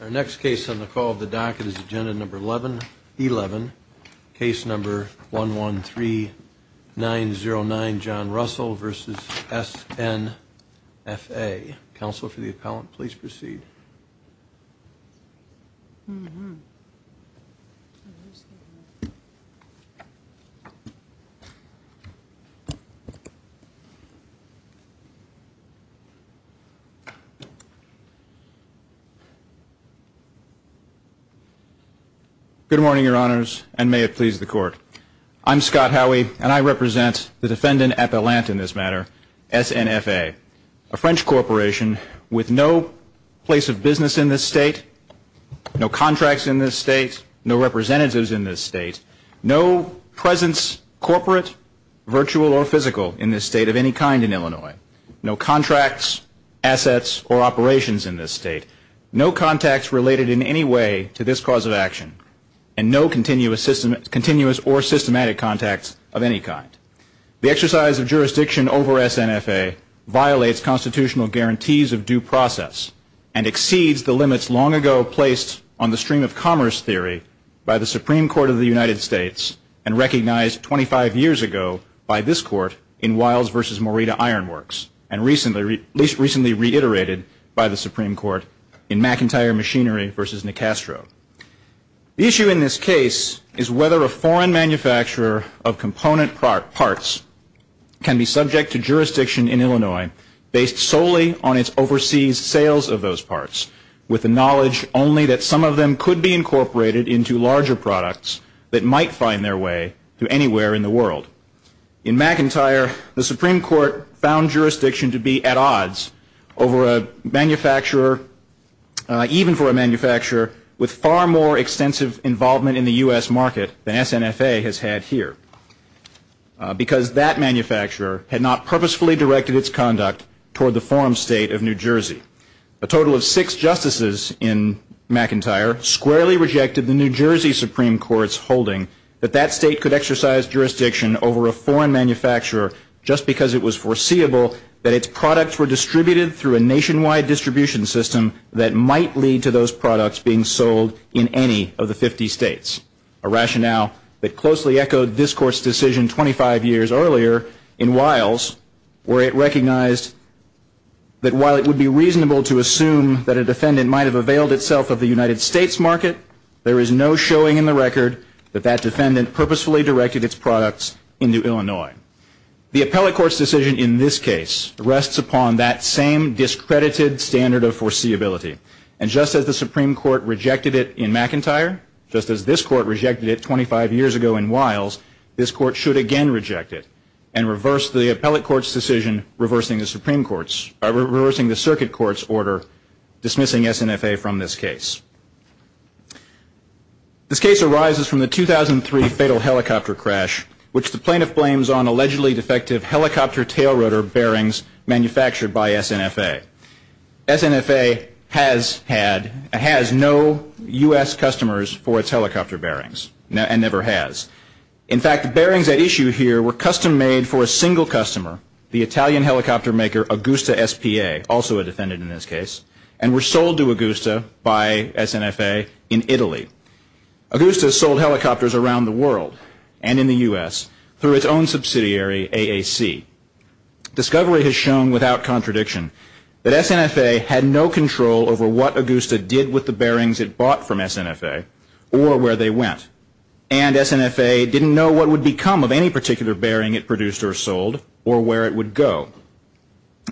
Our next case on the call of the docket is agenda number 1111 case number 113909 John Russell vs. SNFA. Counselor for the appellant, please proceed. Good morning, your honors, and may it please the court. I'm Scott Howey, and I represent the defendant appellant in this matter, SNFA, a French corporation with no place of business in this state, no contracts in this state, no representatives in this state, no presence corporate, virtual, or physical in this state of any kind in Illinois, no contracts, assets, or operations in this state. No contacts related in any way to this cause of action, and no continuous or systematic contacts of any kind. The exercise of jurisdiction over SNFA violates constitutional guarantees of due process and exceeds the limits long ago placed on the stream of commerce theory by the Supreme Court of the United States and recognized 25 years ago by this court in Wiles v. Morita Iron Works, and least recently reiterated by the Supreme Court in McIntyre Machinery v. Nicastro. The issue in this case is whether a foreign manufacturer of component parts can be subject to jurisdiction in Illinois based solely on its overseas sales of those parts, with the knowledge only that some of them could be incorporated into larger products that might find their way to anywhere in the world. In McIntyre, the Supreme Court found jurisdiction to be at odds over a manufacturer, even for a manufacturer, with far more extensive involvement in the US market than SNFA has had here, because that manufacturer had not purposefully directed its conduct toward the forum state of New Jersey. A total of six justices in McIntyre squarely rejected the New Jersey Supreme Court's holding that that state could exercise jurisdiction over a foreign manufacturer just because it was foreseeable that its products were distributed through a nationwide distribution system that might lead to those products being sold in any of the 50 states. A rationale that closely echoed this Court's decision 25 years earlier in Wiles, where it recognized that while it would be reasonable to assume that a defendant might have availed itself of the United States market, there is no showing in the record that that defendant purposefully directed its products into Illinois. The appellate court's decision in this case rests upon that same discredited standard of foreseeability, and just as the Supreme Court rejected it in McIntyre, just as this Court rejected it 25 years ago in Wiles, this Court should again reject it and reverse the appellate court's decision reversing the circuit court's order dismissing SNFA from this case. This case arises from the 2003 fatal helicopter crash, which the plaintiff blames on allegedly defective helicopter tail rotor bearings manufactured by SNFA. SNFA has no U.S. customers for its helicopter bearings, and never has. In fact, the bearings at issue here were custom made for a single customer, the Italian helicopter maker Augusta SPA, also a defendant in this case, and were sold to Augusta by SNFA in Italy. Augusta sold helicopters around the world and in the U.S. through its own subsidiary, AAC. Discovery has shown without contradiction that SNFA had no control over what Augusta did with the bearings it bought from SNFA or where they went, and SNFA didn't know what would become of any particular bearing it produced or sold or where it would go.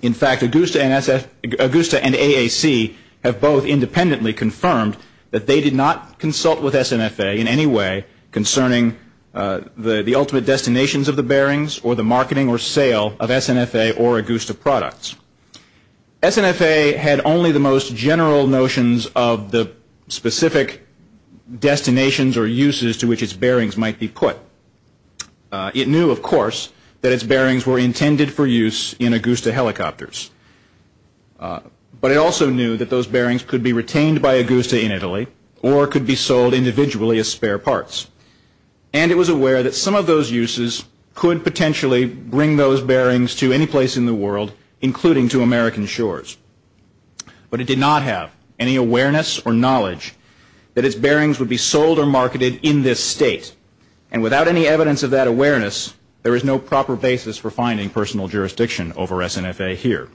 In fact, Augusta and AAC have both independently confirmed that they did not consult with SNFA in any way concerning the ultimate destinations of the bearings or the marketing or sale of SNFA or Augusta products. SNFA had only the most general notions of the specific destinations or uses to which its bearings might be put. It knew, of course, that its bearings were intended for use in Augusta helicopters, but it also knew that those bearings could be retained by Augusta in Italy or could be sold individually as spare parts. And it was aware that some of those uses could potentially bring those bearings to any place in the world, including to American shores. But it did not have any awareness or knowledge that its bearings would be sold or marketed in this state. And without any evidence of that awareness, there is no proper basis for finding personal jurisdiction over SNFA here.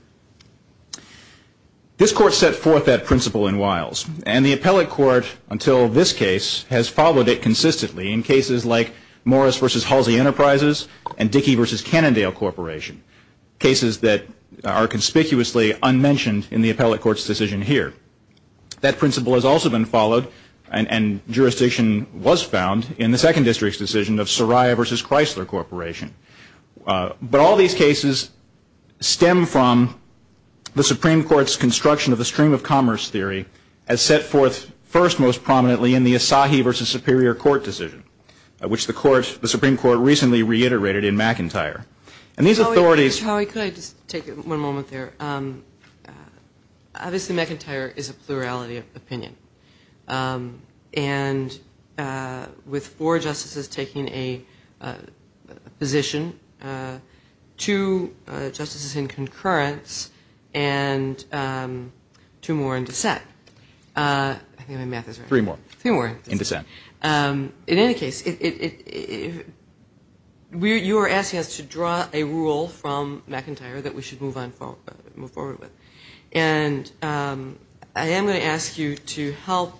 This court set forth that principle in Wiles, and the appellate court, until this case, has followed it consistently in cases like Morris v. Halsey Enterprises and Dickey v. Cannondale Corporation, cases that are conspicuously unmentioned in the appellate court's decision here. That principle has also been followed, and jurisdiction was found in the Second District's decision of Soraya v. Chrysler Corporation. But all these cases stem from the Supreme Court's construction of the stream-of-commerce theory as set forth first most prominently in the Asahi v. Superior Court decision, which the Supreme Court recently reiterated in McIntyre. And these authorities... two justices in concurrence, and two more in dissent. I think my math is right. Three more. Three more. In dissent. In any case, you are asking us to draw a rule from McIntyre that we should move forward with. And I am going to ask you to help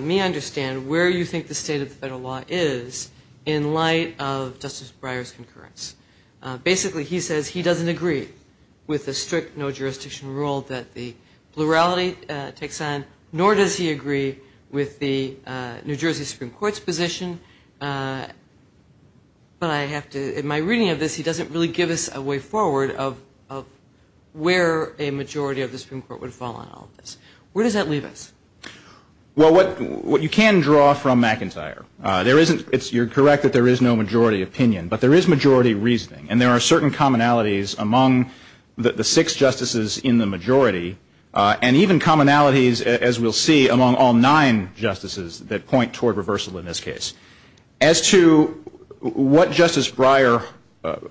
me understand where you think the state of the federal law is in light of Justice Breyer's concurrence. Basically, he says he doesn't agree with the strict no-jurisdiction rule that the plurality takes on, nor does he agree with the New Jersey Supreme Court's position. But I have to... in my reading of this, he doesn't really give us a way forward of where a majority of the Supreme Court would fall on all of this. Where does that leave us? Well, what you can draw from McIntyre, you're correct that there is no majority opinion, but there is majority reasoning. And there are certain commonalities among the six justices in the majority, and even commonalities, as we'll see, among all nine justices that point toward reversal in this case. As to what Justice Breyer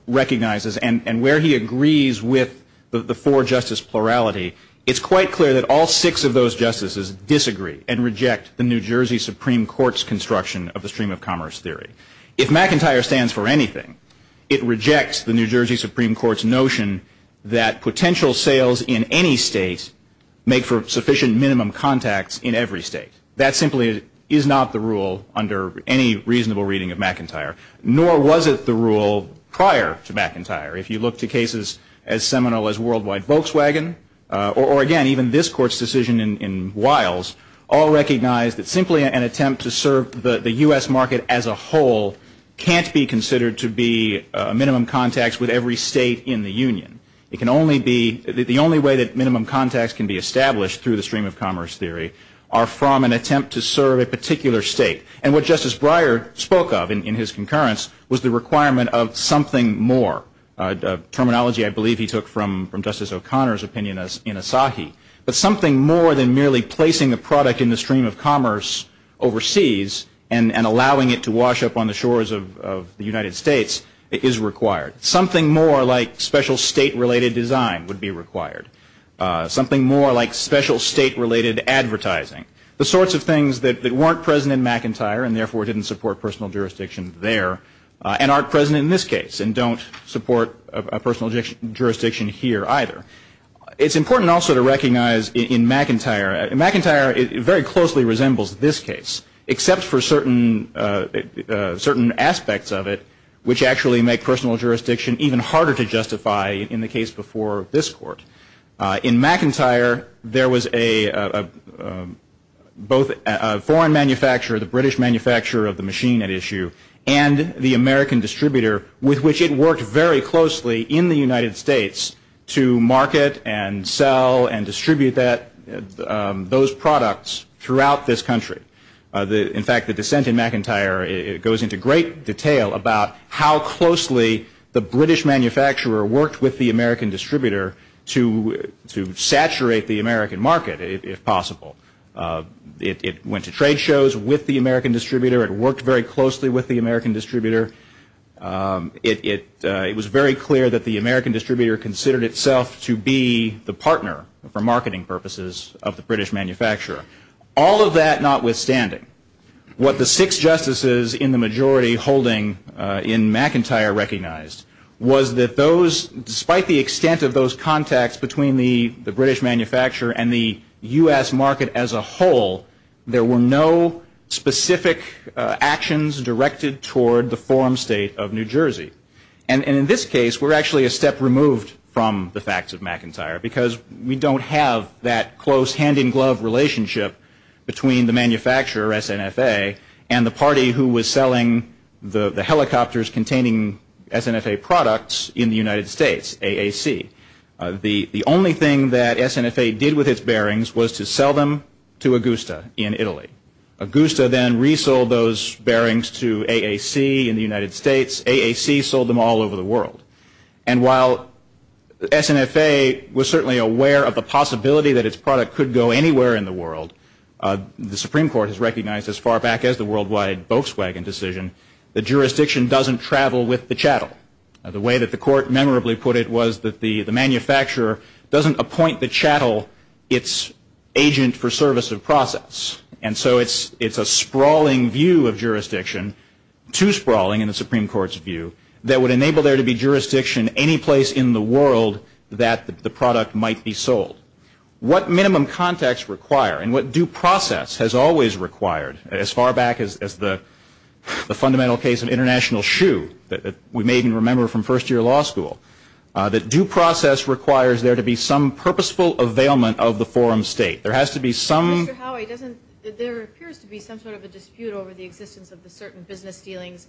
recognizes and where he agrees with the four-justice plurality, it's quite clear that all six of those justices disagree and reject the New Jersey Supreme Court's construction of the stream-of-commerce theory. If McIntyre stands for anything, it rejects the New Jersey Supreme Court's notion that potential sales in any state make for sufficient minimum contacts in every state. That simply is not the rule under any reasonable reading of McIntyre, nor was it the rule prior to McIntyre. If you look to cases as seminal as Worldwide Volkswagen, or again even this Court's decision in Wiles, all recognize that simply an attempt to serve the U.S. market as a whole can't be considered to be minimum contacts with every state in the union. The only way that minimum contacts can be established through the stream-of-commerce theory are from an attempt to serve a particular state. And what Justice Breyer spoke of in his concurrence was the requirement of something more. Terminology I believe he took from Justice O'Connor's opinion in Asahi. But something more than merely placing a product in the stream-of-commerce overseas and allowing it to wash up on the shores of the United States is required. Something more like special state-related design would be required. Something more like special state-related advertising. The sorts of things that weren't present in McIntyre and therefore didn't support personal jurisdiction there and aren't present in this case and don't support a personal jurisdiction here either. It's important also to recognize in McIntyre, McIntyre very closely resembles this case except for certain aspects of it which actually make personal jurisdiction even harder to justify in the case before this Court. In McIntyre, there was both a foreign manufacturer, the British manufacturer of the machine at issue, and the American distributor with which it worked very closely in the United States to market and sell and distribute those products throughout this country. In fact, the dissent in McIntyre goes into great detail about how closely the British manufacturer worked with the American distributor to saturate the American market if possible. It went to trade shows with the American distributor. It worked very closely with the American distributor. It was very clear that the American distributor considered itself to be the partner for marketing purposes of the British manufacturer. All of that notwithstanding, what the six justices in the majority holding in McIntyre recognized was that despite the extent of those contacts between the British manufacturer and the U.S. market as a whole, there were no specific actions directed toward the forum state of New Jersey. And in this case, we're actually a step removed from the facts of McIntyre because we don't have that close hand-in-glove relationship between the manufacturer, SNFA, and the party who was selling the helicopters containing SNFA products in the United States, AAC. The only thing that SNFA did with its bearings was to sell them to Augusta in Italy. Augusta then resold those bearings to AAC in the United States. AAC sold them all over the world. And while SNFA was certainly aware of the possibility that its product could go anywhere in the world, the Supreme Court has recognized as far back as the worldwide Volkswagen decision that jurisdiction doesn't travel with the chattel. The way that the court memorably put it was that the manufacturer doesn't appoint the chattel its agent for service of process. And so it's a sprawling view of jurisdiction, too sprawling in the Supreme Court's view, that would enable there to be jurisdiction any place in the world that the product might be sold. What minimum context require, and what due process has always required, as far back as the fundamental case of International Shoe that we may even remember from first-year law school, that due process requires there to be some purposeful availment of the forum state. There has to be some... Mr. Howey, there appears to be some sort of a dispute over the existence of the certain business dealings,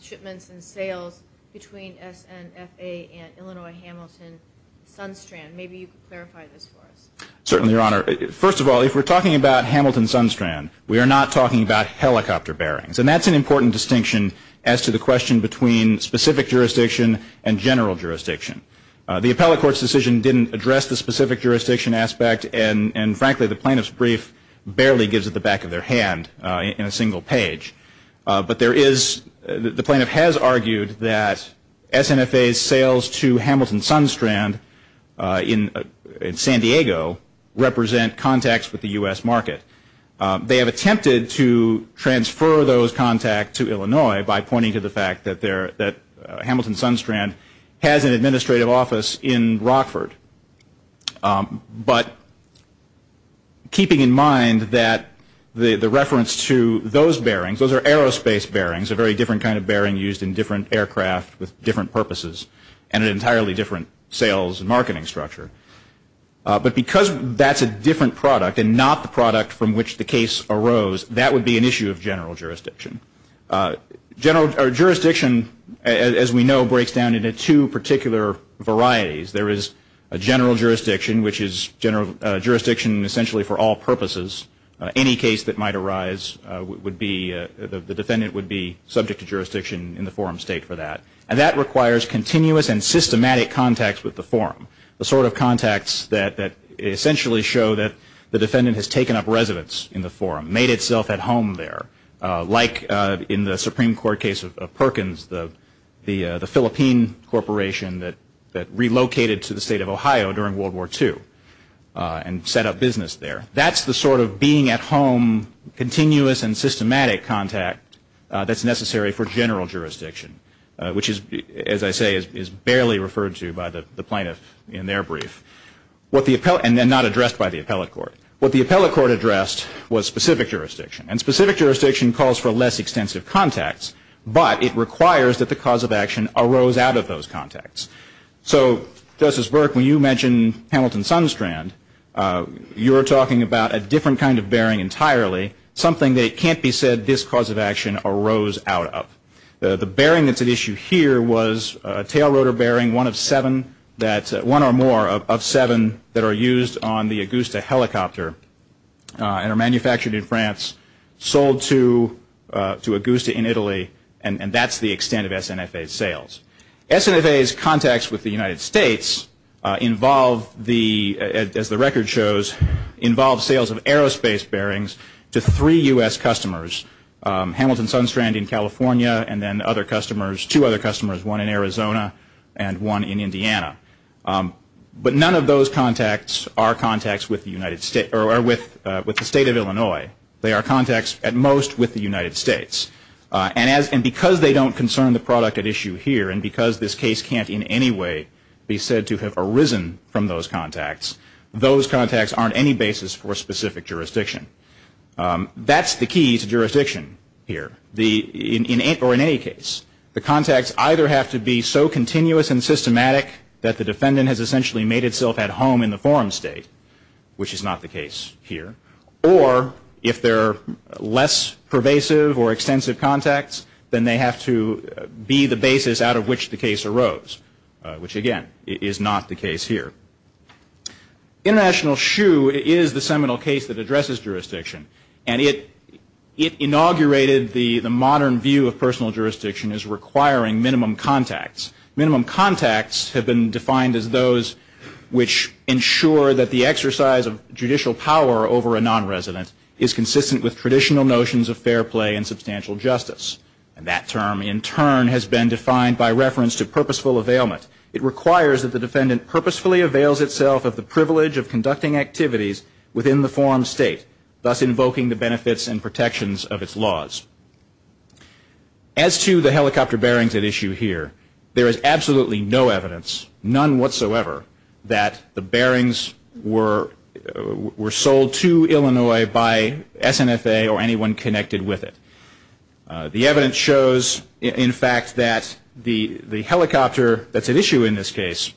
shipments and sales between SNFA and Illinois Hamilton Sunstrand. Maybe you could clarify this for us. Certainly, Your Honor. First of all, if we're talking about Hamilton Sunstrand, we are not talking about helicopter bearings. And that's an important distinction as to the question between specific jurisdiction and general jurisdiction. The appellate court's decision didn't address the specific jurisdiction aspect, and frankly the plaintiff's brief barely gives it the back of their hand in a single page. But there is... The plaintiff has argued that SNFA's sales to Hamilton Sunstrand in San Diego represent contacts with the U.S. market. They have attempted to transfer those contacts to Illinois by pointing to the fact that Hamilton Sunstrand has an administrative office in Rockford. But keeping in mind that the reference to those bearings, those are aerospace bearings, a very different kind of bearing used in different aircraft with different purposes and an entirely different sales and marketing structure. But because that's a different product and not the product from which the case arose, that would be an issue of general jurisdiction. General jurisdiction, as we know, breaks down into two particular varieties. There is a general jurisdiction, which is jurisdiction essentially for all purposes. Any case that might arise, the defendant would be subject to jurisdiction in the forum state for that. And that requires continuous and systematic contacts with the forum, the sort of contacts that essentially show that the defendant has taken up residence in the forum, made itself at home there, like in the Supreme Court case of Perkins, the Philippine corporation that relocated to the state of Ohio during World War II and set up business there. That's the sort of being at home, continuous and systematic contact that's necessary for general jurisdiction, which is, as I say, is barely referred to by the plaintiff in their brief. And not addressed by the appellate court. What the appellate court addressed was specific jurisdiction. And specific jurisdiction calls for less extensive contacts, but it requires that the cause of action arose out of those contacts. So, Justice Burke, when you mention Hamilton-Sunstrand, you're talking about a different kind of bearing entirely, something that can't be said this cause of action arose out of. The bearing that's at issue here was a tail rotor bearing, one of seven, that are used on the Augusta helicopter and are manufactured in France, sold to Augusta in Italy, and that's the extent of SNFA's sales. SNFA's contacts with the United States involve, as the record shows, involves sales of aerospace bearings to three U.S. customers, Hamilton-Sunstrand in California, and then two other customers, one in Arizona and one in Indiana. But none of those contacts are contacts with the State of Illinois. They are contacts, at most, with the United States. And because they don't concern the product at issue here, and because this case can't in any way be said to have arisen from those contacts, those contacts aren't any basis for specific jurisdiction. That's the key to jurisdiction here, or in any case. The contacts either have to be so continuous and systematic that the defendant has essentially made itself at home in the forum state, which is not the case here, or if they're less pervasive or extensive contacts, then they have to be the basis out of which the case arose, which, again, is not the case here. International SHU is the seminal case that addresses jurisdiction, and it inaugurated the modern view of personal jurisdiction as requiring minimum contacts. Minimum contacts have been defined as those which ensure that the exercise of judicial power over a nonresident is consistent with traditional notions of fair play and substantial justice. And that term, in turn, has been defined by reference to purposeful availment. It requires that the defendant purposefully avails itself of the privilege of conducting activities within the forum state, thus invoking the benefits and protections of its laws. As to the helicopter bearings at issue here, there is absolutely no evidence, none whatsoever, that the bearings were sold to Illinois by SNFA or anyone connected with it. The evidence shows, in fact, that the helicopter that's at issue in this case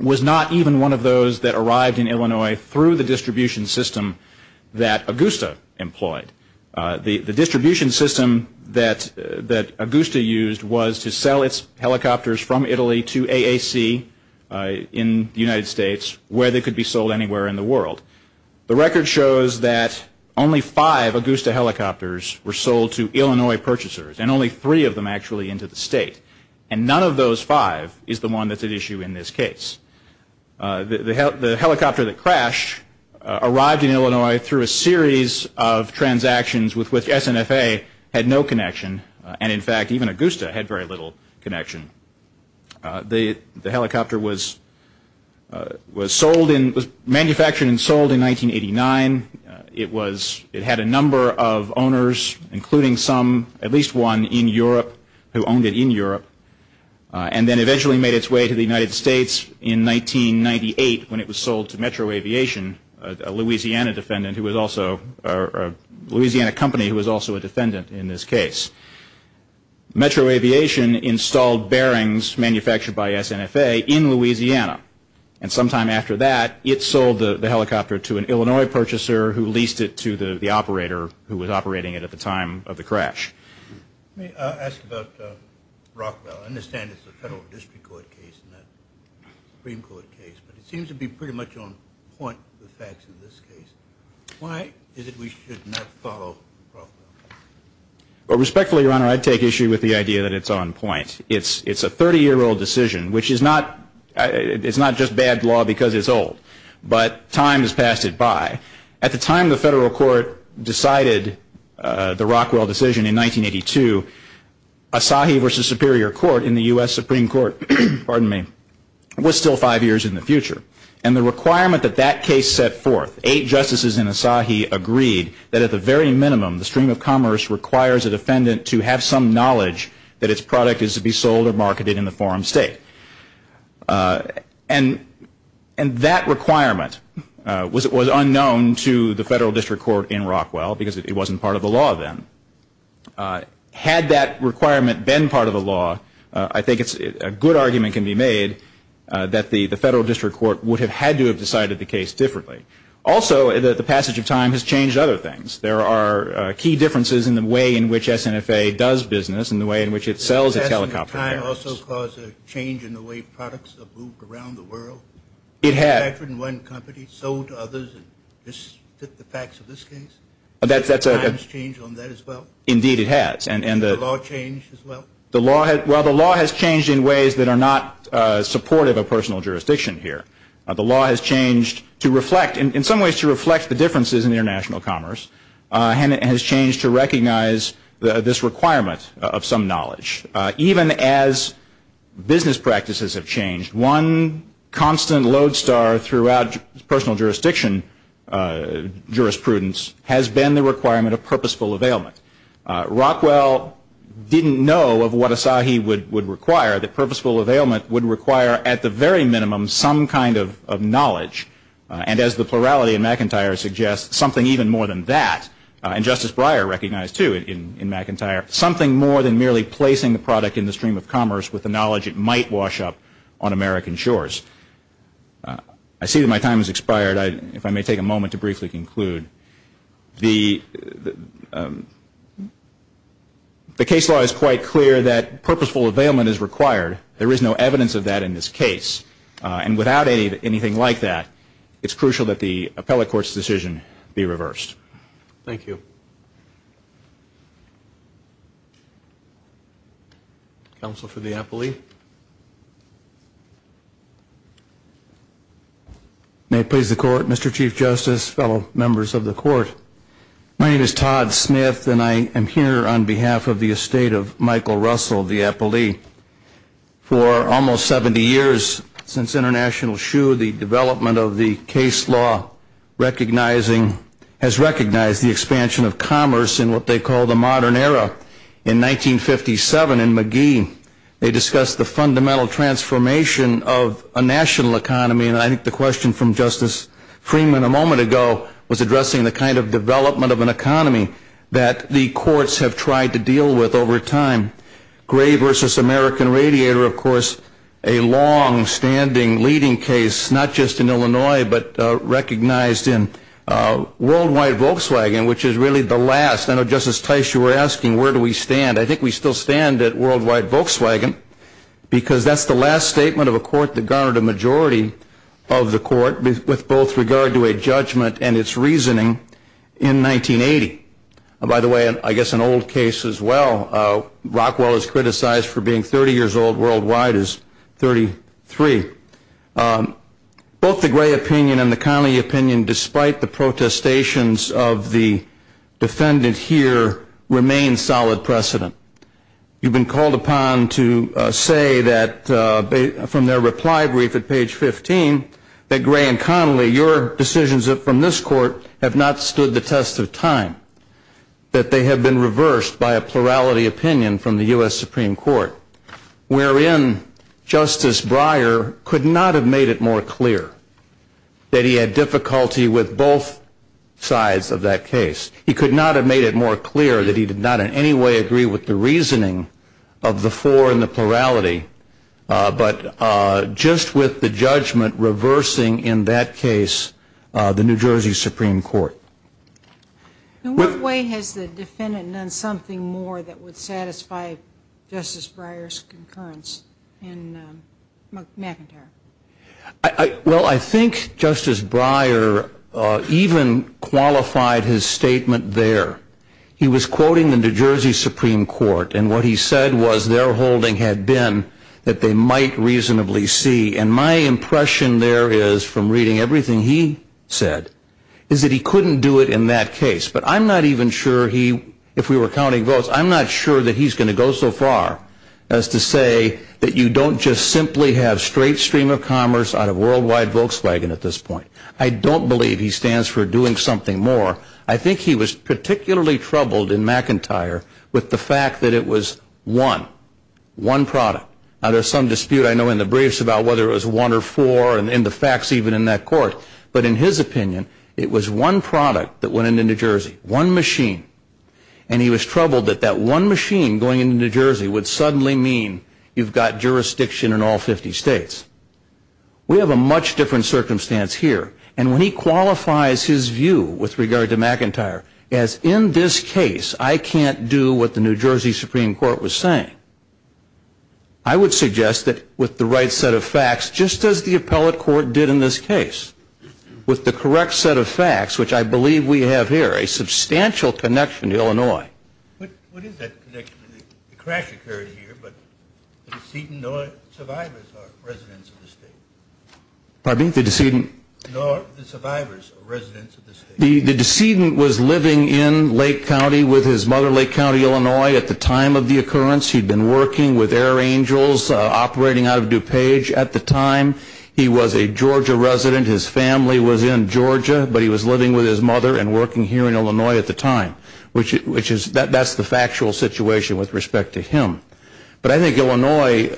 was not even one of those that arrived in Illinois through the distribution system that Augusta employed. The distribution system that Augusta used was to sell its helicopters from Italy to AAC in the United States where they could be sold anywhere in the world. The record shows that only five Augusta helicopters were sold to Illinois purchasers, and only three of them actually into the state. And none of those five is the one that's at issue in this case. The helicopter that crashed arrived in Illinois through a series of transactions with which SNFA had no connection. And, in fact, even Augusta had very little connection. The helicopter was manufactured and sold in 1989. It had a number of owners, including some, at least one in Europe who owned it in Europe, and then eventually made its way to the United States in 1998 when it was sold to Metro Aviation, a Louisiana company who was also a defendant in this case. Metro Aviation installed bearings manufactured by SNFA in Louisiana, and sometime after that it sold the helicopter to an Illinois purchaser who leased it to the operator who was operating it at the time of the crash. Let me ask about Rockwell. I understand it's a federal district court case, not a Supreme Court case, but it seems to be pretty much on point with the facts in this case. Why is it we should not follow Rockwell? Well, respectfully, Your Honor, I'd take issue with the idea that it's on point. It's a 30-year-old decision, which is not just bad law because it's old, but time has passed it by. At the time the federal court decided the Rockwell decision in 1982, Asahi v. Superior Court in the U.S. Supreme Court was still five years in the future. And the requirement that that case set forth, eight justices in Asahi agreed that at the very minimum, the stream of commerce requires a defendant to have some knowledge that its product is to be sold or marketed in the forum state. And that requirement was unknown to the federal district court in Rockwell because it wasn't part of the law then. Had that requirement been part of the law, I think a good argument can be made that the federal district court would have had to have decided the case differently. Also, the passage of time has changed other things. There are key differences in the way in which SNFA does business and the way in which it sells its helicopter products. Has the passage of time also caused a change in the way products are moved around the world? It has. Manufactured in one company, sold to others, and the facts of this case? Has the times changed on that as well? Indeed, it has. Has the law changed as well? Well, the law has changed in ways that are not supportive of personal jurisdiction here. The law has changed to reflect, in some ways to reflect the differences in international commerce, and it has changed to recognize this requirement of some knowledge. Even as business practices have changed, one constant lodestar throughout personal jurisdiction jurisprudence has been the requirement of purposeful availment. Rockwell didn't know of what Asahi would require, that purposeful availment would require, at the very minimum, some kind of knowledge. And as the plurality in McIntyre suggests, something even more than that. And Justice Breyer recognized, too, in McIntyre, something more than merely placing the product in the stream of commerce with the knowledge it might wash up on American shores. I see that my time has expired. If I may take a moment to briefly conclude. The case law is quite clear that purposeful availment is required. There is no evidence of that in this case. And without anything like that, it's crucial that the appellate court's decision be reversed. Thank you. Counsel for the appellee. May it please the court, Mr. Chief Justice, fellow members of the court. My name is Todd Smith, and I am here on behalf of the estate of Michael Russell, the appellee. For almost 70 years since International Shoe, the development of the case law has recognized the expansion of commerce in what they call the modern era. In 1957 in McGee, they discussed the fundamental transformation of a national economy, and I think the question from Justice Freeman a moment ago was addressing the kind of development of an economy that the courts have tried to deal with over time. Gray v. American Radiator, of course, a longstanding leading case, not just in Illinois, but recognized in worldwide Volkswagen, which is really the last. I know Justice Teichu were asking where do we stand. I think we still stand at worldwide Volkswagen, because that's the last statement of a court that garnered a majority of the court with both regard to a judgment and its reasoning in 1980. By the way, I guess an old case as well. Rockwell is criticized for being 30 years old. Worldwide is 33. Both the Gray opinion and the Connolly opinion, despite the protestations of the defendant here, remain solid precedent. You've been called upon to say that from their reply brief at page 15 that Gray and Connolly, your decisions from this court have not stood the test of time, that they have been reversed by a plurality opinion from the U.S. Supreme Court, wherein Justice Breyer could not have made it more clear that he had difficulty with both sides of that case. He could not have made it more clear that he did not in any way agree with the reasoning of the four and the plurality, but just with the judgment reversing in that case the New Jersey Supreme Court. In what way has the defendant done something more that would satisfy Justice Breyer's concurrence in McIntyre? Well, I think Justice Breyer even qualified his statement there. He was quoting the New Jersey Supreme Court, and what he said was their holding had been that they might reasonably see, and my impression there is from reading everything he said, is that he couldn't do it in that case. But I'm not even sure he, if we were counting votes, I'm not sure that he's going to go so far as to say that you don't just simply have straight stream of commerce out of Worldwide Volkswagen at this point. I don't believe he stands for doing something more. I think he was particularly troubled in McIntyre with the fact that it was one, one product. Now, there's some dispute I know in the briefs about whether it was one or four and the facts even in that court, but in his opinion, it was one product that went into New Jersey, one machine. And he was troubled that that one machine going into New Jersey would suddenly mean you've got jurisdiction in all 50 states. We have a much different circumstance here. And when he qualifies his view with regard to McIntyre as in this case I can't do what the New Jersey Supreme Court was saying, I would suggest that with the right set of facts, just as the appellate court did in this case, with the correct set of facts, which I believe we have here, a substantial connection to Illinois. What is that connection? The crash occurred here, but the decedent nor survivors are residents of the state. Pardon me? The decedent. Nor the survivors are residents of the state. The decedent was living in Lake County with his mother, Lake County, Illinois. At the time of the occurrence, he had been working with Air Angels operating out of DuPage at the time. He was a Georgia resident. His family was in Georgia, but he was living with his mother and working here in Illinois at the time. That's the factual situation with respect to him. But I think Illinois,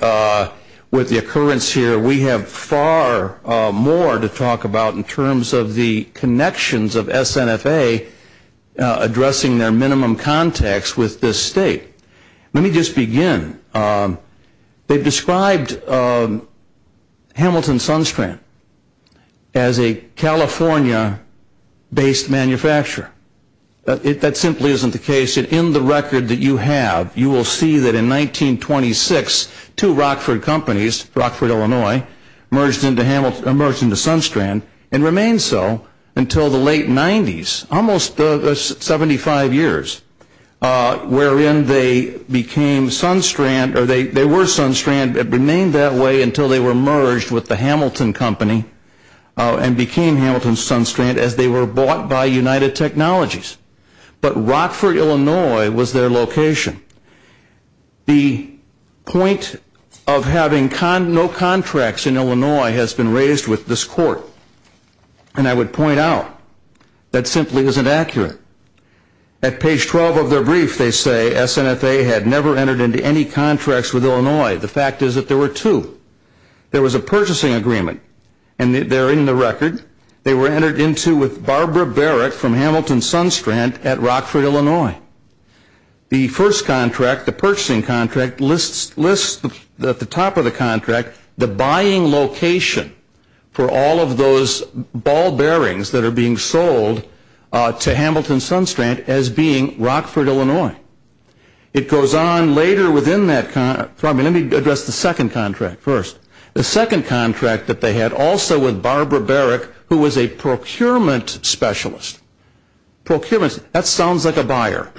with the occurrence here, we have far more to talk about in terms of the connections of SNFA addressing their minimum contacts with this state. Let me just begin. They've described Hamilton Sunstrand as a California-based manufacturer. That simply isn't the case. In the record that you have, you will see that in 1926, two Rockford companies, Rockford, Illinois, merged into Sunstrand and remained so until the late 90s, almost 75 years, wherein they became Sunstrand, or they were Sunstrand, but remained that way until they were merged with the Hamilton Company and became Hamilton Sunstrand as they were bought by United Technologies. But Rockford, Illinois, was their location. The point of having no contracts in Illinois has been raised with this court, and I would point out that simply isn't accurate. At page 12 of their brief, they say SNFA had never entered into any contracts with Illinois. The fact is that there were two. There was a purchasing agreement, and there in the record, they were entered into with Barbara Barrett from Hamilton Sunstrand at Rockford, Illinois. The first contract, the purchasing contract, lists at the top of the contract the buying location for all of those ball bearings that are being sold to Hamilton Sunstrand as being Rockford, Illinois. It goes on later within that contract. Let me address the second contract first. The second contract that they had also with Barbara Barrett, who was a procurement specialist. Procurements, that sounds like a buyer.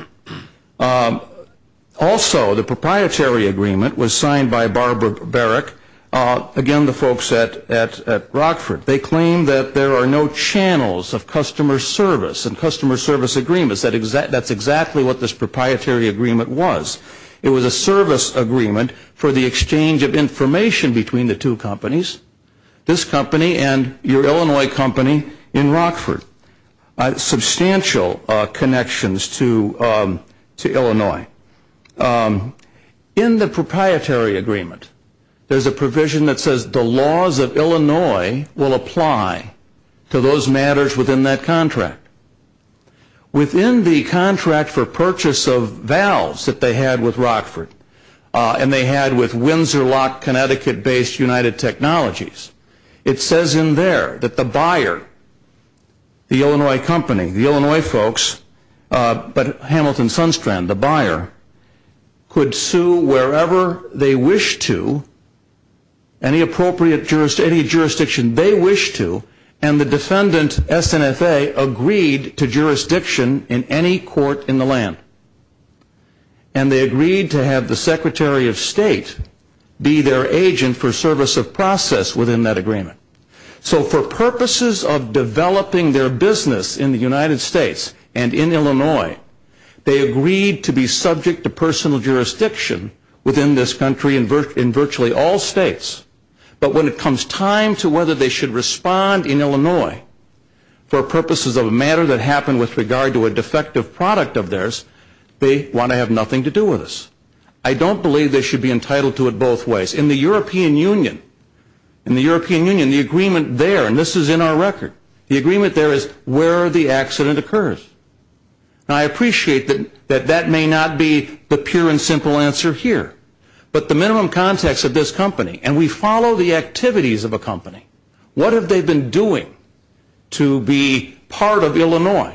Also, the proprietary agreement was signed by Barbara Barrett, again, the folks at Rockford. They claim that there are no channels of customer service and customer service agreements. That's exactly what this proprietary agreement was. It was a service agreement for the exchange of information between the two companies, this company and your Illinois company in Rockford. Substantial connections to Illinois. In the proprietary agreement, there's a provision that says the laws of Illinois will apply to those matters within that contract. Within the contract for purchase of valves that they had with Rockford, and they had with Windsor Lock, Connecticut-based United Technologies. It says in there that the buyer, the Illinois company, the Illinois folks, but Hamilton Sunstrand, the buyer, could sue wherever they wished to, any jurisdiction they wished to, and the defendant, SNFA, agreed to jurisdiction in any court in the land. And they agreed to have the Secretary of State be their agent for service of process within that agreement. So for purposes of developing their business in the United States and in Illinois, they agreed to be subject to personal jurisdiction within this country in virtually all states. But when it comes time to whether they should respond in Illinois for purposes of a matter that happened with regard to a defective product of theirs, they want to have nothing to do with us. I don't believe they should be entitled to it both ways. In the European Union, the agreement there, and this is in our record, the agreement there is where the accident occurs. And I appreciate that that may not be the pure and simple answer here, but the minimum context of this company, and we follow the activities of a company, what have they been doing to be part of Illinois?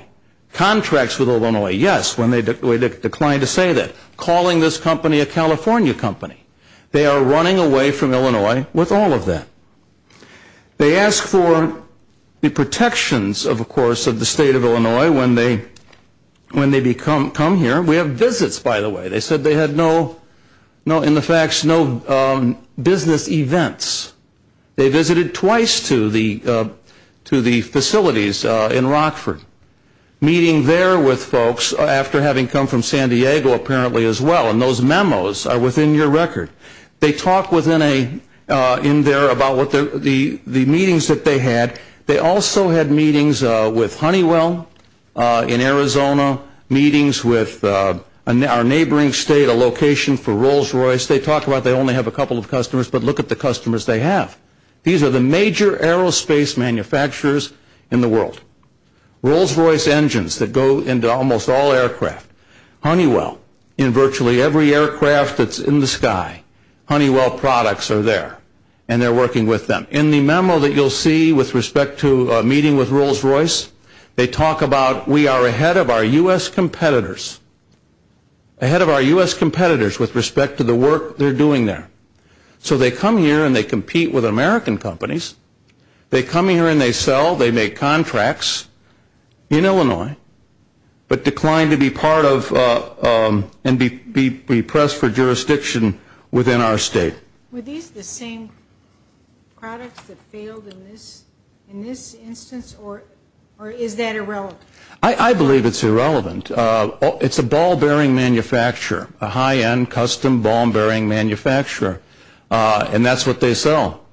Contracts with Illinois. Yes, when they declined to say that, calling this company a California company. They are running away from Illinois with all of that. They ask for the protections, of course, of the state of Illinois when they come here. We have visits, by the way. They said they had no, in the facts, no business events. They visited twice to the facilities in Rockford. Meeting there with folks after having come from San Diego apparently as well, and those memos are within your record. They talk in there about the meetings that they had. They also had meetings with Honeywell in Arizona, meetings with our neighboring state, a location for Rolls Royce. Of course, they talk about they only have a couple of customers, but look at the customers they have. These are the major aerospace manufacturers in the world. Rolls Royce engines that go into almost all aircraft. Honeywell in virtually every aircraft that's in the sky. Honeywell products are there, and they're working with them. In the memo that you'll see with respect to a meeting with Rolls Royce, they talk about we are ahead of our U.S. competitors, ahead of our U.S. competitors with respect to the work they're doing there. So they come here and they compete with American companies. They come here and they sell, they make contracts in Illinois, but decline to be part of and be pressed for jurisdiction within our state. Were these the same products that failed in this instance, or is that irrelevant? I believe it's irrelevant. It's a ball bearing manufacturer, a high-end custom ball bearing manufacturer, and that's what they sell.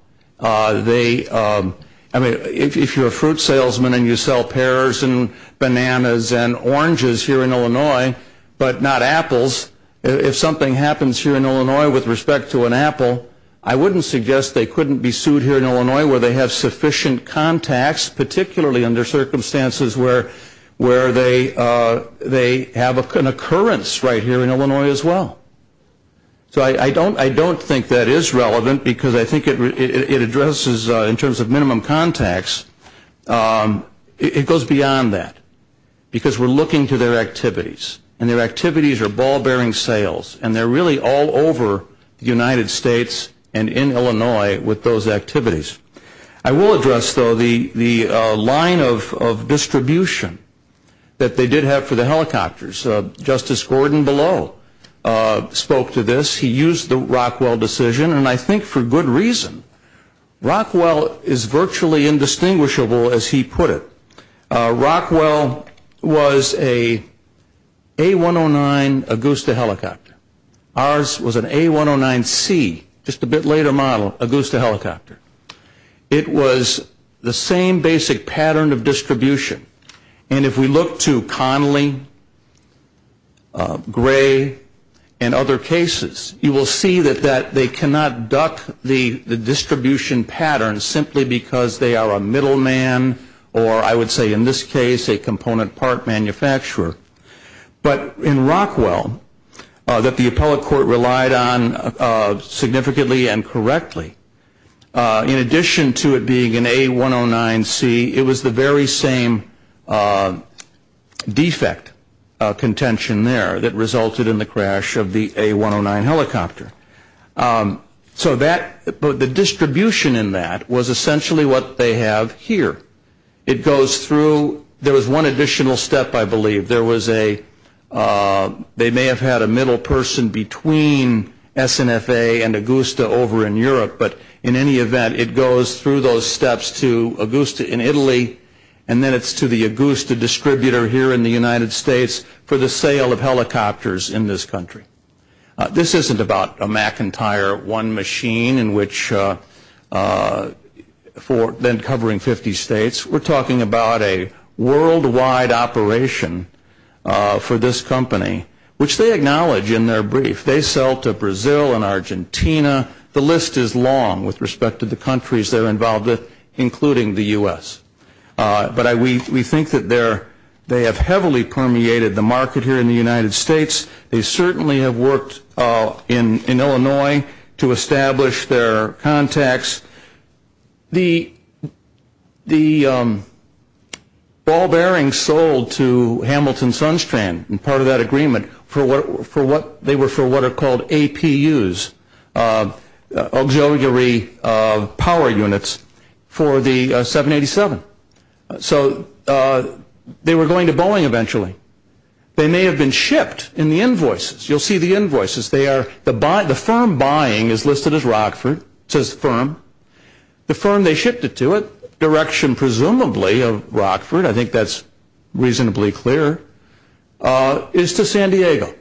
If you're a fruit salesman and you sell pears and bananas and oranges here in Illinois, but not apples, if something happens here in Illinois with respect to an apple, I wouldn't suggest they couldn't be sued here in Illinois where they have sufficient contacts, particularly under circumstances where they have an occurrence right here in Illinois as well. So I don't think that is relevant because I think it addresses in terms of minimum contacts, it goes beyond that because we're looking to their activities, and their activities are ball bearing sales, and they're really all over the United States and in Illinois with those activities. I will address, though, the line of distribution that they did have for the helicopters. Justice Gordon Below spoke to this. He used the Rockwell decision, and I think for good reason. Rockwell is virtually indistinguishable, as he put it. Rockwell was a A109 Augusta helicopter. Ours was an A109C, just a bit later model, Augusta helicopter. It was the same basic pattern of distribution. And if we look to Connelly, Gray, and other cases, you will see that they cannot duck the distribution pattern simply because they are a middle man or I would say in this case a component part manufacturer. But in Rockwell, that the appellate court relied on significantly and correctly, in addition to it being an A109C, it was the very same defect contention there that resulted in the crash of the A109 helicopter. So the distribution in that was essentially what they have here. It goes through, there was one additional step, I believe. There was a, they may have had a middle person between SNFA and Augusta over in Europe, but in any event, it goes through those steps to Augusta in Italy, and then it's to the Augusta distributor here in the United States for the sale of helicopters in this country. This isn't about a McIntyre one machine in which, then covering 50 states. We're talking about a worldwide operation for this company, which they acknowledge in their brief. They sell to Brazil and Argentina. The list is long with respect to the countries they're involved in, including the U.S. But we think that they have heavily permeated the market here in the United States. They certainly have worked in Illinois to establish their contacts. The ball bearings sold to Hamilton Sunstrand, part of that agreement, they were for what are called APUs, auxiliary power units, for the 787. So they were going to Boeing eventually. They may have been shipped in the invoices. You'll see the invoices. They are, the firm buying is listed as Rockford, says the firm. The firm they shipped it to, direction presumably of Rockford, I think that's reasonably clear, is to San Diego,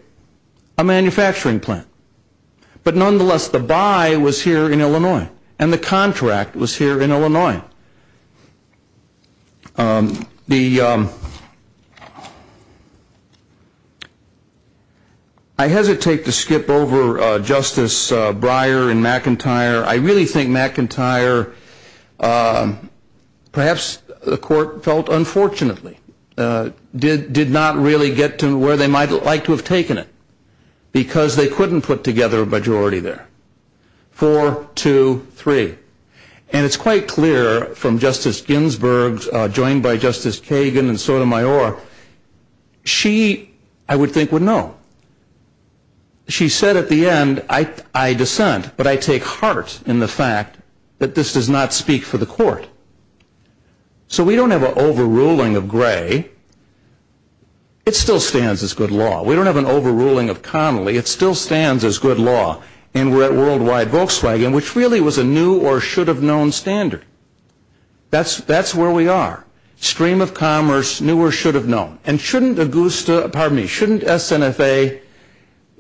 a manufacturing plant. But nonetheless, the buy was here in Illinois, and the contract was here in Illinois. Now, I hesitate to skip over Justice Breyer and McIntyre. I really think McIntyre, perhaps the court felt unfortunately, did not really get to where they might like to have taken it, because they couldn't put together a majority there. Four, two, three. And it's quite clear from Justice Ginsburg, joined by Justice Kagan and Sotomayor, she, I would think, would know. She said at the end, I dissent, but I take heart in the fact that this does not speak for the court. So we don't have an overruling of Gray. It still stands as good law. We don't have an overruling of Connolly. It still stands as good law. And we're at worldwide Volkswagen, which really was a new or should have known standard. That's where we are. Stream of commerce, new or should have known. And shouldn't SNFA,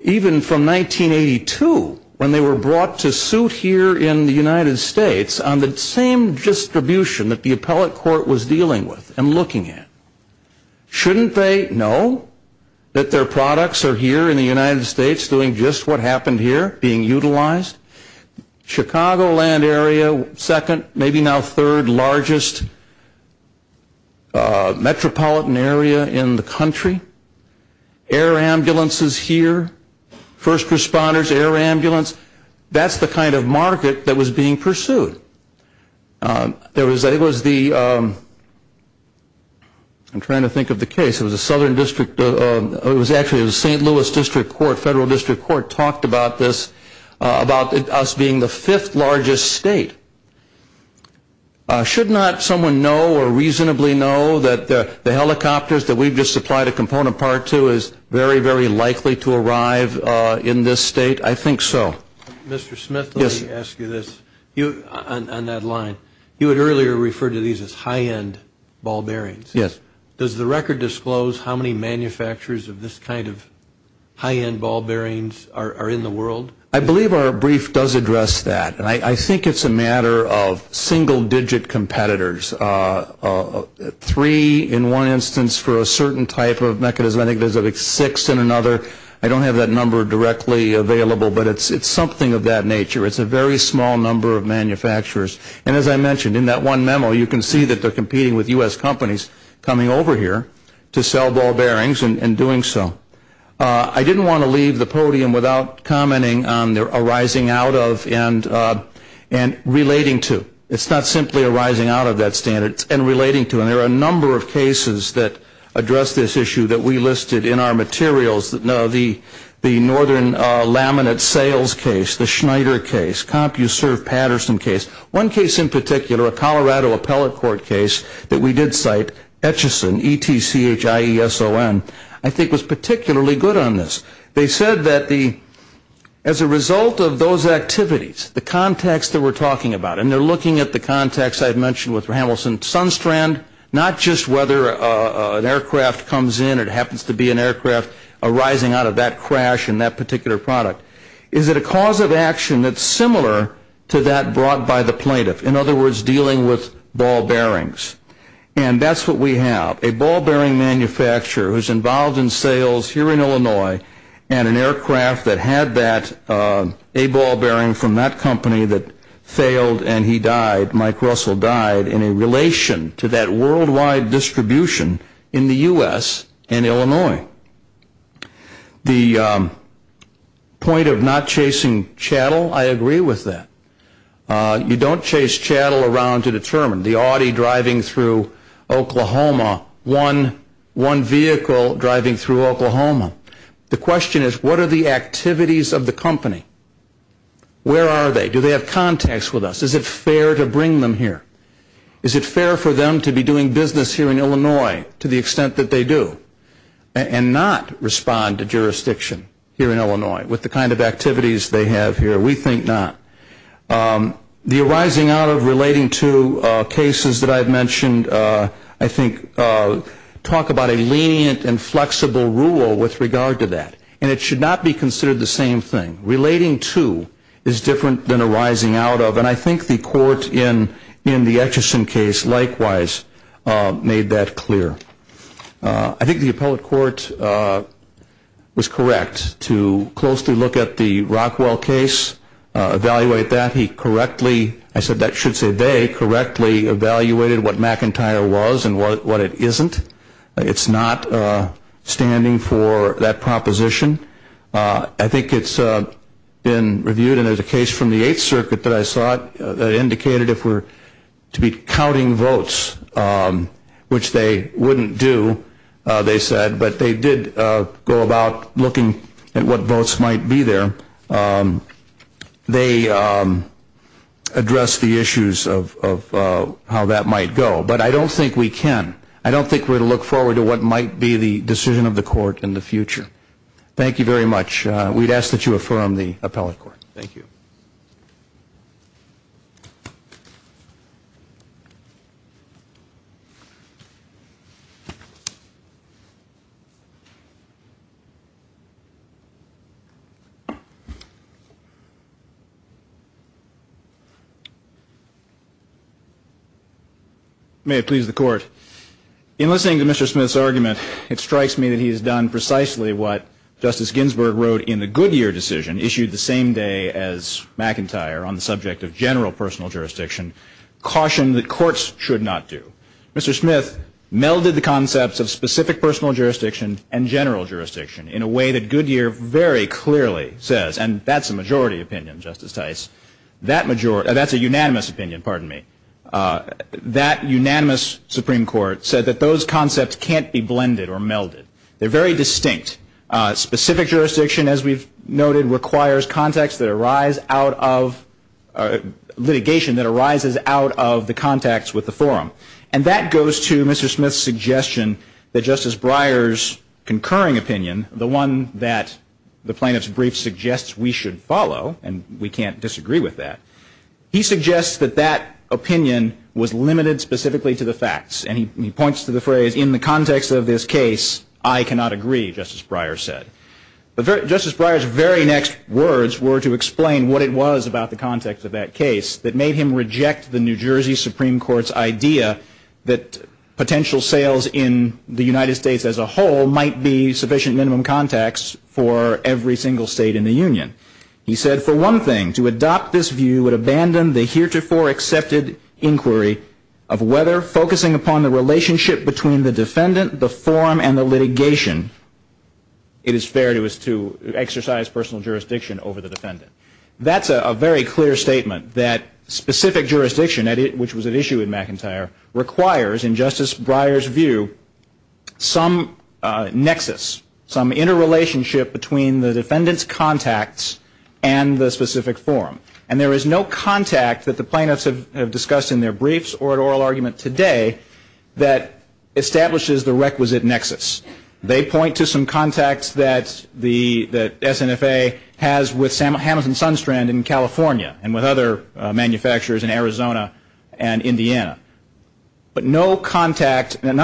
even from 1982, when they were brought to suit here in the United States on the same distribution that the appellate court was dealing with and looking at, shouldn't they know that their products are here in the United States doing just what happened here, being utilized? Chicagoland area, second, maybe now third largest metropolitan area in the country. Air ambulances here. First responders, air ambulance. That's the kind of market that was being pursued. There was the ‑‑ I'm trying to think of the case. It was a southern district. It was actually a St. Louis district court, federal district court, talked about this, about us being the fifth largest state. Should not someone know or reasonably know that the helicopters that we've just supplied a component part to is very, very likely to arrive in this state? I think so. Mr. Smith, let me ask you this. On that line, you had earlier referred to these as high-end ball bearings. Yes. Does the record disclose how many manufacturers of this kind of high-end ball bearings are in the world? I believe our brief does address that. And I think it's a matter of single digit competitors. Three in one instance for a certain type of mechanism. I think there's like six in another. I don't have that number directly available, but it's something of that nature. It's a very small number of manufacturers. And as I mentioned, in that one memo, you can see that they're competing with U.S. companies coming over here to sell ball bearings and doing so. I didn't want to leave the podium without commenting on arising out of and relating to. It's not simply arising out of that standard and relating to. And there are a number of cases that address this issue that we listed in our materials. The northern laminate sales case, the Schneider case, CompuServe Patterson case. One case in particular, a Colorado appellate court case that we did cite, Etchison, E-T-C-H-I-E-S-O-N, I think was particularly good on this. They said that as a result of those activities, the contacts that we're talking about, and they're looking at the contacts I had mentioned with Hamilton Sunstrand, not just whether an aircraft comes in or it happens to be an aircraft arising out of that crash in that particular product. Is it a cause of action that's similar to that brought by the plaintiff? In other words, dealing with ball bearings. And that's what we have, a ball bearing manufacturer who's involved in sales here in Illinois and an aircraft that had that, a ball bearing from that company that failed and he died, Mike Russell died, in a relation to that worldwide distribution in the U.S. and Illinois. The point of not chasing chattel, I agree with that. You don't chase chattel around to determine. The Audi driving through Oklahoma, one vehicle driving through Oklahoma. The question is, what are the activities of the company? Where are they? Do they have contacts with us? Is it fair to bring them here? Is it fair for them to be doing business here in Illinois to the extent that they do and not respond to jurisdiction here in Illinois with the kind of activities they have here? We think not. The arising out of relating to cases that I've mentioned, I think, talk about a lenient and flexible rule with regard to that. And it should not be considered the same thing. Relating to is different than arising out of. And I think the court in the Etchison case likewise made that clear. I think the appellate court was correct to closely look at the Rockwell case, evaluate that. He correctly, I should say they, correctly evaluated what McIntyre was and what it isn't. It's not standing for that proposition. I think it's been reviewed, and there's a case from the Eighth Circuit that I saw that indicated if we're to be counting votes, which they wouldn't do, they said, but they did go about looking at what votes might be there. They addressed the issues of how that might go. But I don't think we can. I don't think we're going to look forward to what might be the decision of the court in the future. Thank you very much. We'd ask that you affirm the appellate court. Thank you. May it please the Court. In listening to Mr. Smith's argument, it strikes me that he has done precisely what Justice Ginsburg wrote in the Goodyear decision, issued the same day as McIntyre on the subject of general personal jurisdiction, caution that courts should not do. Mr. Smith melded the concepts of specific personal jurisdiction and general jurisdiction in a way that Goodyear very clearly says, and that's a majority opinion, Justice Tice. That's a unanimous opinion, pardon me. That unanimous Supreme Court said that those concepts can't be blended or melded. They're very distinct. Specific jurisdiction, as we've noted, requires litigation that arises out of the contacts with the forum. And that goes to Mr. Smith's suggestion that Justice Breyer's concurring opinion, the one that the plaintiff's brief suggests we should follow, and we can't disagree with that, he suggests that that opinion was limited specifically to the facts. And he points to the phrase, in the context of this case, I cannot agree, Justice Breyer said. But Justice Breyer's very next words were to explain what it was about the context of that case that made him reject the New Jersey Supreme Court's idea that potential sales in the United States as a whole might be sufficient minimum contacts for every single state in the union. He said, for one thing, to adopt this view would abandon the heretofore accepted inquiry of whether, focusing upon the relationship between the defendant, the forum, and the litigation, it is fair to us to exercise personal jurisdiction over the defendant. That's a very clear statement that specific jurisdiction, which was an issue in McIntyre, requires, in Justice Breyer's view, some nexus, some interrelationship between the defendant's contacts and the specific forum. And there is no contact that the plaintiffs have discussed in their briefs or at oral argument today that establishes the requisite nexus. They point to some contacts that the SNFA has with Hamilton-Sunstrand in California and with other manufacturers in Arizona and Indiana. But none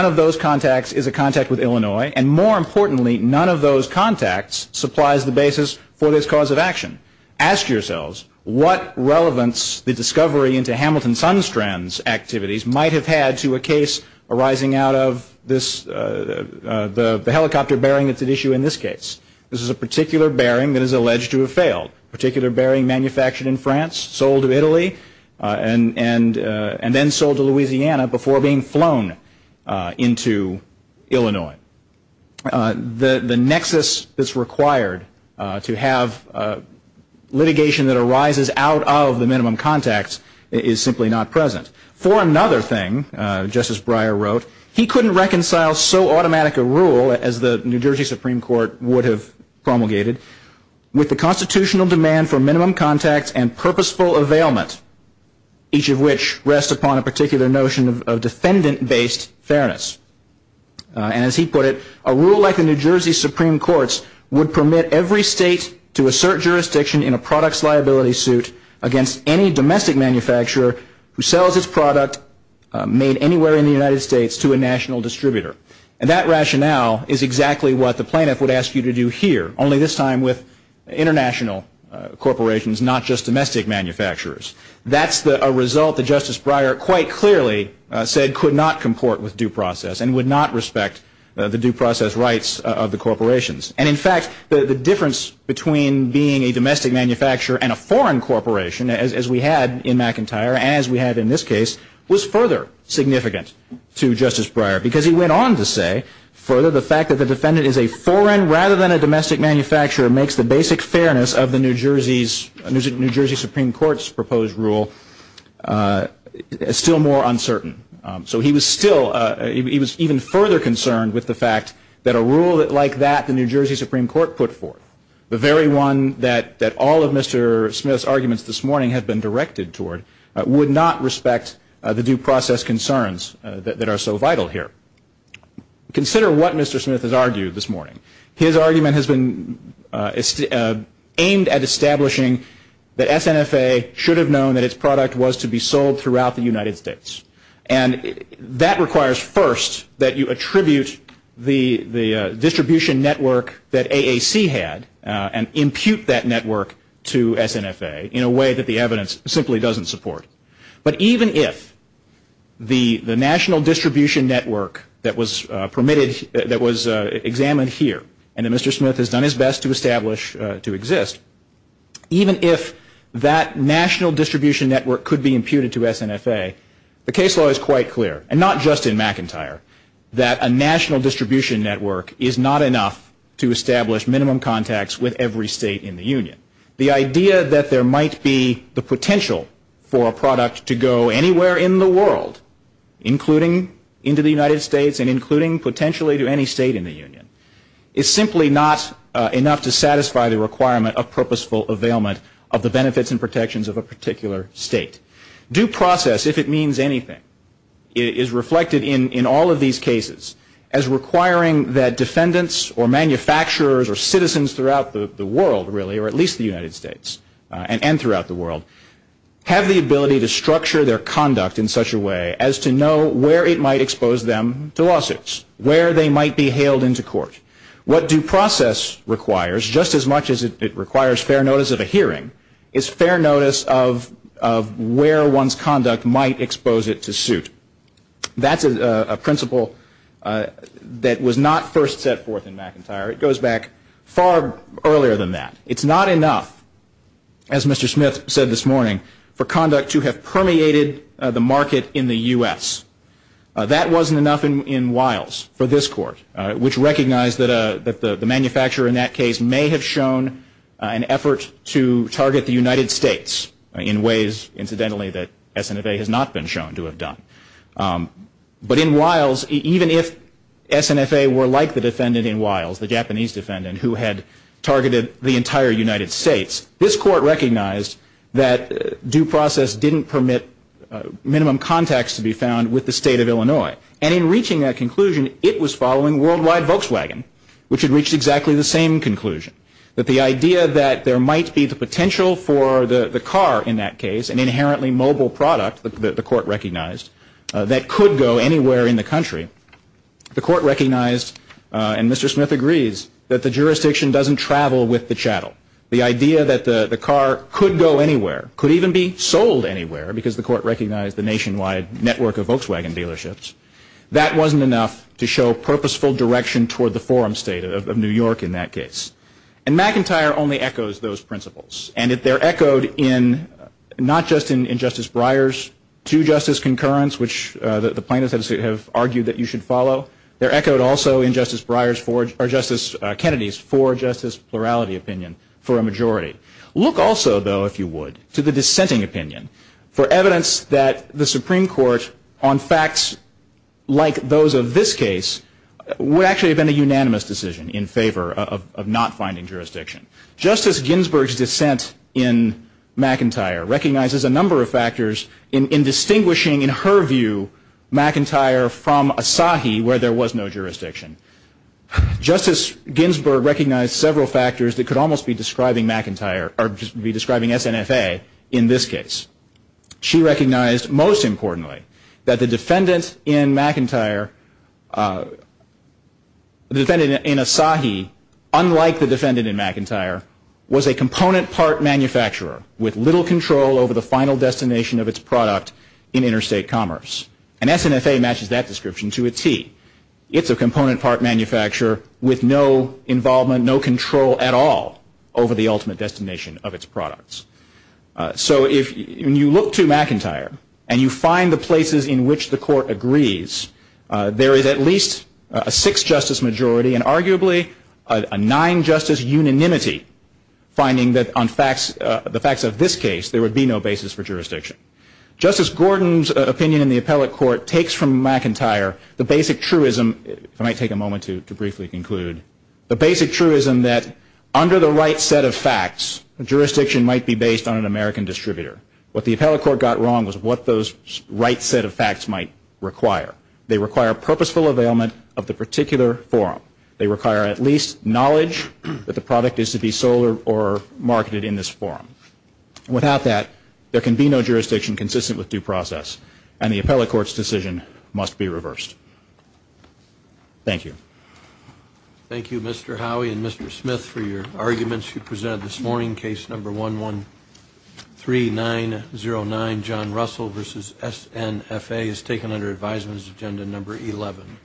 of those contacts is a contact with Illinois, and more importantly, none of those contacts supplies the basis for this cause of action. Ask yourselves what relevance the discovery into Hamilton-Sunstrand's activities might have had to a case arising out of the helicopter bearing that's at issue in this case. This is a particular bearing that is alleged to have failed, a particular bearing manufactured in France, sold to Italy, and then sold to Louisiana before being flown into Illinois. The nexus that's required to have litigation that arises out of the minimum contacts is simply not present. For another thing, Justice Breyer wrote, he couldn't reconcile so automatic a rule as the New Jersey Supreme Court would have promulgated with the constitutional demand for minimum contacts and purposeful availment, each of which rests upon a particular notion of defendant-based fairness. And as he put it, a rule like the New Jersey Supreme Court's would permit every state to assert jurisdiction in a products liability suit against any domestic manufacturer who sells its product made anywhere in the United States to a national distributor. And that rationale is exactly what the plaintiff would ask you to do here, only this time with international corporations, not just domestic manufacturers. That's a result that Justice Breyer quite clearly said could not comport with due process and would not respect the due process rights of the corporations. And in fact, the difference between being a domestic manufacturer and a foreign corporation, as we had in McIntyre, as we had in this case, was further significant to Justice Breyer, because he went on to say, further, the fact that the defendant is a foreign rather than a domestic manufacturer makes the basic fairness of the New Jersey Supreme Court's proposed rule still more uncertain. So he was even further concerned with the fact that a rule like that the New Jersey Supreme Court put forth, the very one that all of Mr. Smith's arguments this morning had been directed toward, would not respect the due process concerns that are so vital here. Consider what Mr. Smith has argued this morning. His argument has been aimed at establishing that SNFA should have known that its product was to be sold throughout the United States. And that requires first that you attribute the distribution network that AAC had and impute that network to SNFA in a way that the evidence simply doesn't support. But even if the national distribution network that was examined here, and that Mr. Smith has done his best to establish to exist, even if that national distribution network could be imputed to SNFA, the case law is quite clear, and not just in McIntyre, that a national distribution network is not enough to establish minimum contacts with every state in the union. The idea that there might be the potential for a product to go anywhere in the world, including into the United States and including potentially to any state in the union, is simply not enough to satisfy the requirement of purposeful availment of the benefits and protections of a particular state. Due process, if it means anything, is reflected in all of these cases as requiring that defendants or manufacturers or citizens throughout the world, really, or at least the United States and throughout the world, have the ability to structure their conduct in such a way as to know where it might expose them to lawsuits, where they might be hailed into court. What due process requires, just as much as it requires fair notice of a hearing, is fair notice of where one's conduct might expose it to suit. That's a principle that was not first set forth in McIntyre. It goes back far earlier than that. It's not enough, as Mr. Smith said this morning, for conduct to have permeated the market in the U.S. That wasn't enough in Wiles for this court, which recognized that the manufacturer in that case may have shown an effort to target the United States in ways, incidentally, that SNFA has not been shown to have done. But in Wiles, even if SNFA were like the defendant in Wiles, the Japanese defendant, who had targeted the entire United States, this court recognized that due process didn't permit minimum contacts to be found with the state of Illinois. And in reaching that conclusion, it was following worldwide Volkswagen, which had reached exactly the same conclusion, that the idea that there might be the potential for the car in that case, an inherently mobile product, the court recognized, that could go anywhere in the country. The court recognized, and Mr. Smith agrees, that the jurisdiction doesn't travel with the chattel. The idea that the car could go anywhere, could even be sold anywhere, because the court recognized the nationwide network of Volkswagen dealerships, that wasn't enough to show purposeful direction toward the forum state of New York in that case. And McIntyre only echoes those principles. And they're echoed not just in Justice Breyer's two-justice concurrence, which the plaintiffs have argued that you should follow, they're echoed also in Justice Kennedy's four-justice plurality opinion for a majority. Look also, though, if you would, to the dissenting opinion, for evidence that the Supreme Court, on facts like those of this case, would actually have been a unanimous decision in favor of not finding jurisdiction. Justice Ginsburg's dissent in McIntyre recognizes a number of factors in distinguishing, in her view, McIntyre from Asahi, where there was no jurisdiction. Justice Ginsburg recognized several factors that could almost be describing McIntyre, or just be describing SNFA in this case. She recognized, most importantly, that the defendant in McIntyre, the defendant in Asahi, unlike the defendant in McIntyre, was a component part manufacturer with little control over the final destination of its product in interstate commerce. And SNFA matches that description to a T. It's a component part manufacturer with no involvement, no control at all, over the ultimate destination of its products. So when you look to McIntyre, and you find the places in which the court agrees, there is at least a six-justice majority, and arguably a nine-justice unanimity, finding that on the facts of this case, there would be no basis for jurisdiction. Justice Gordon's opinion in the appellate court takes from McIntyre the basic truism, if I might take a moment to briefly conclude, the basic truism that under the right set of facts, jurisdiction might be based on an American distributor. What the appellate court got wrong was what those right set of facts might require. They require purposeful availment of the particular forum. They require at least knowledge that the product is to be sold or marketed in this forum. Without that, there can be no jurisdiction consistent with due process, and the appellate court's decision must be reversed. Thank you. Thank you, Mr. Howey and Mr. Smith, for your arguments. We present this morning case number 113909, John Russell v. S.N.F.A. is taken under advisement as agenda number 11.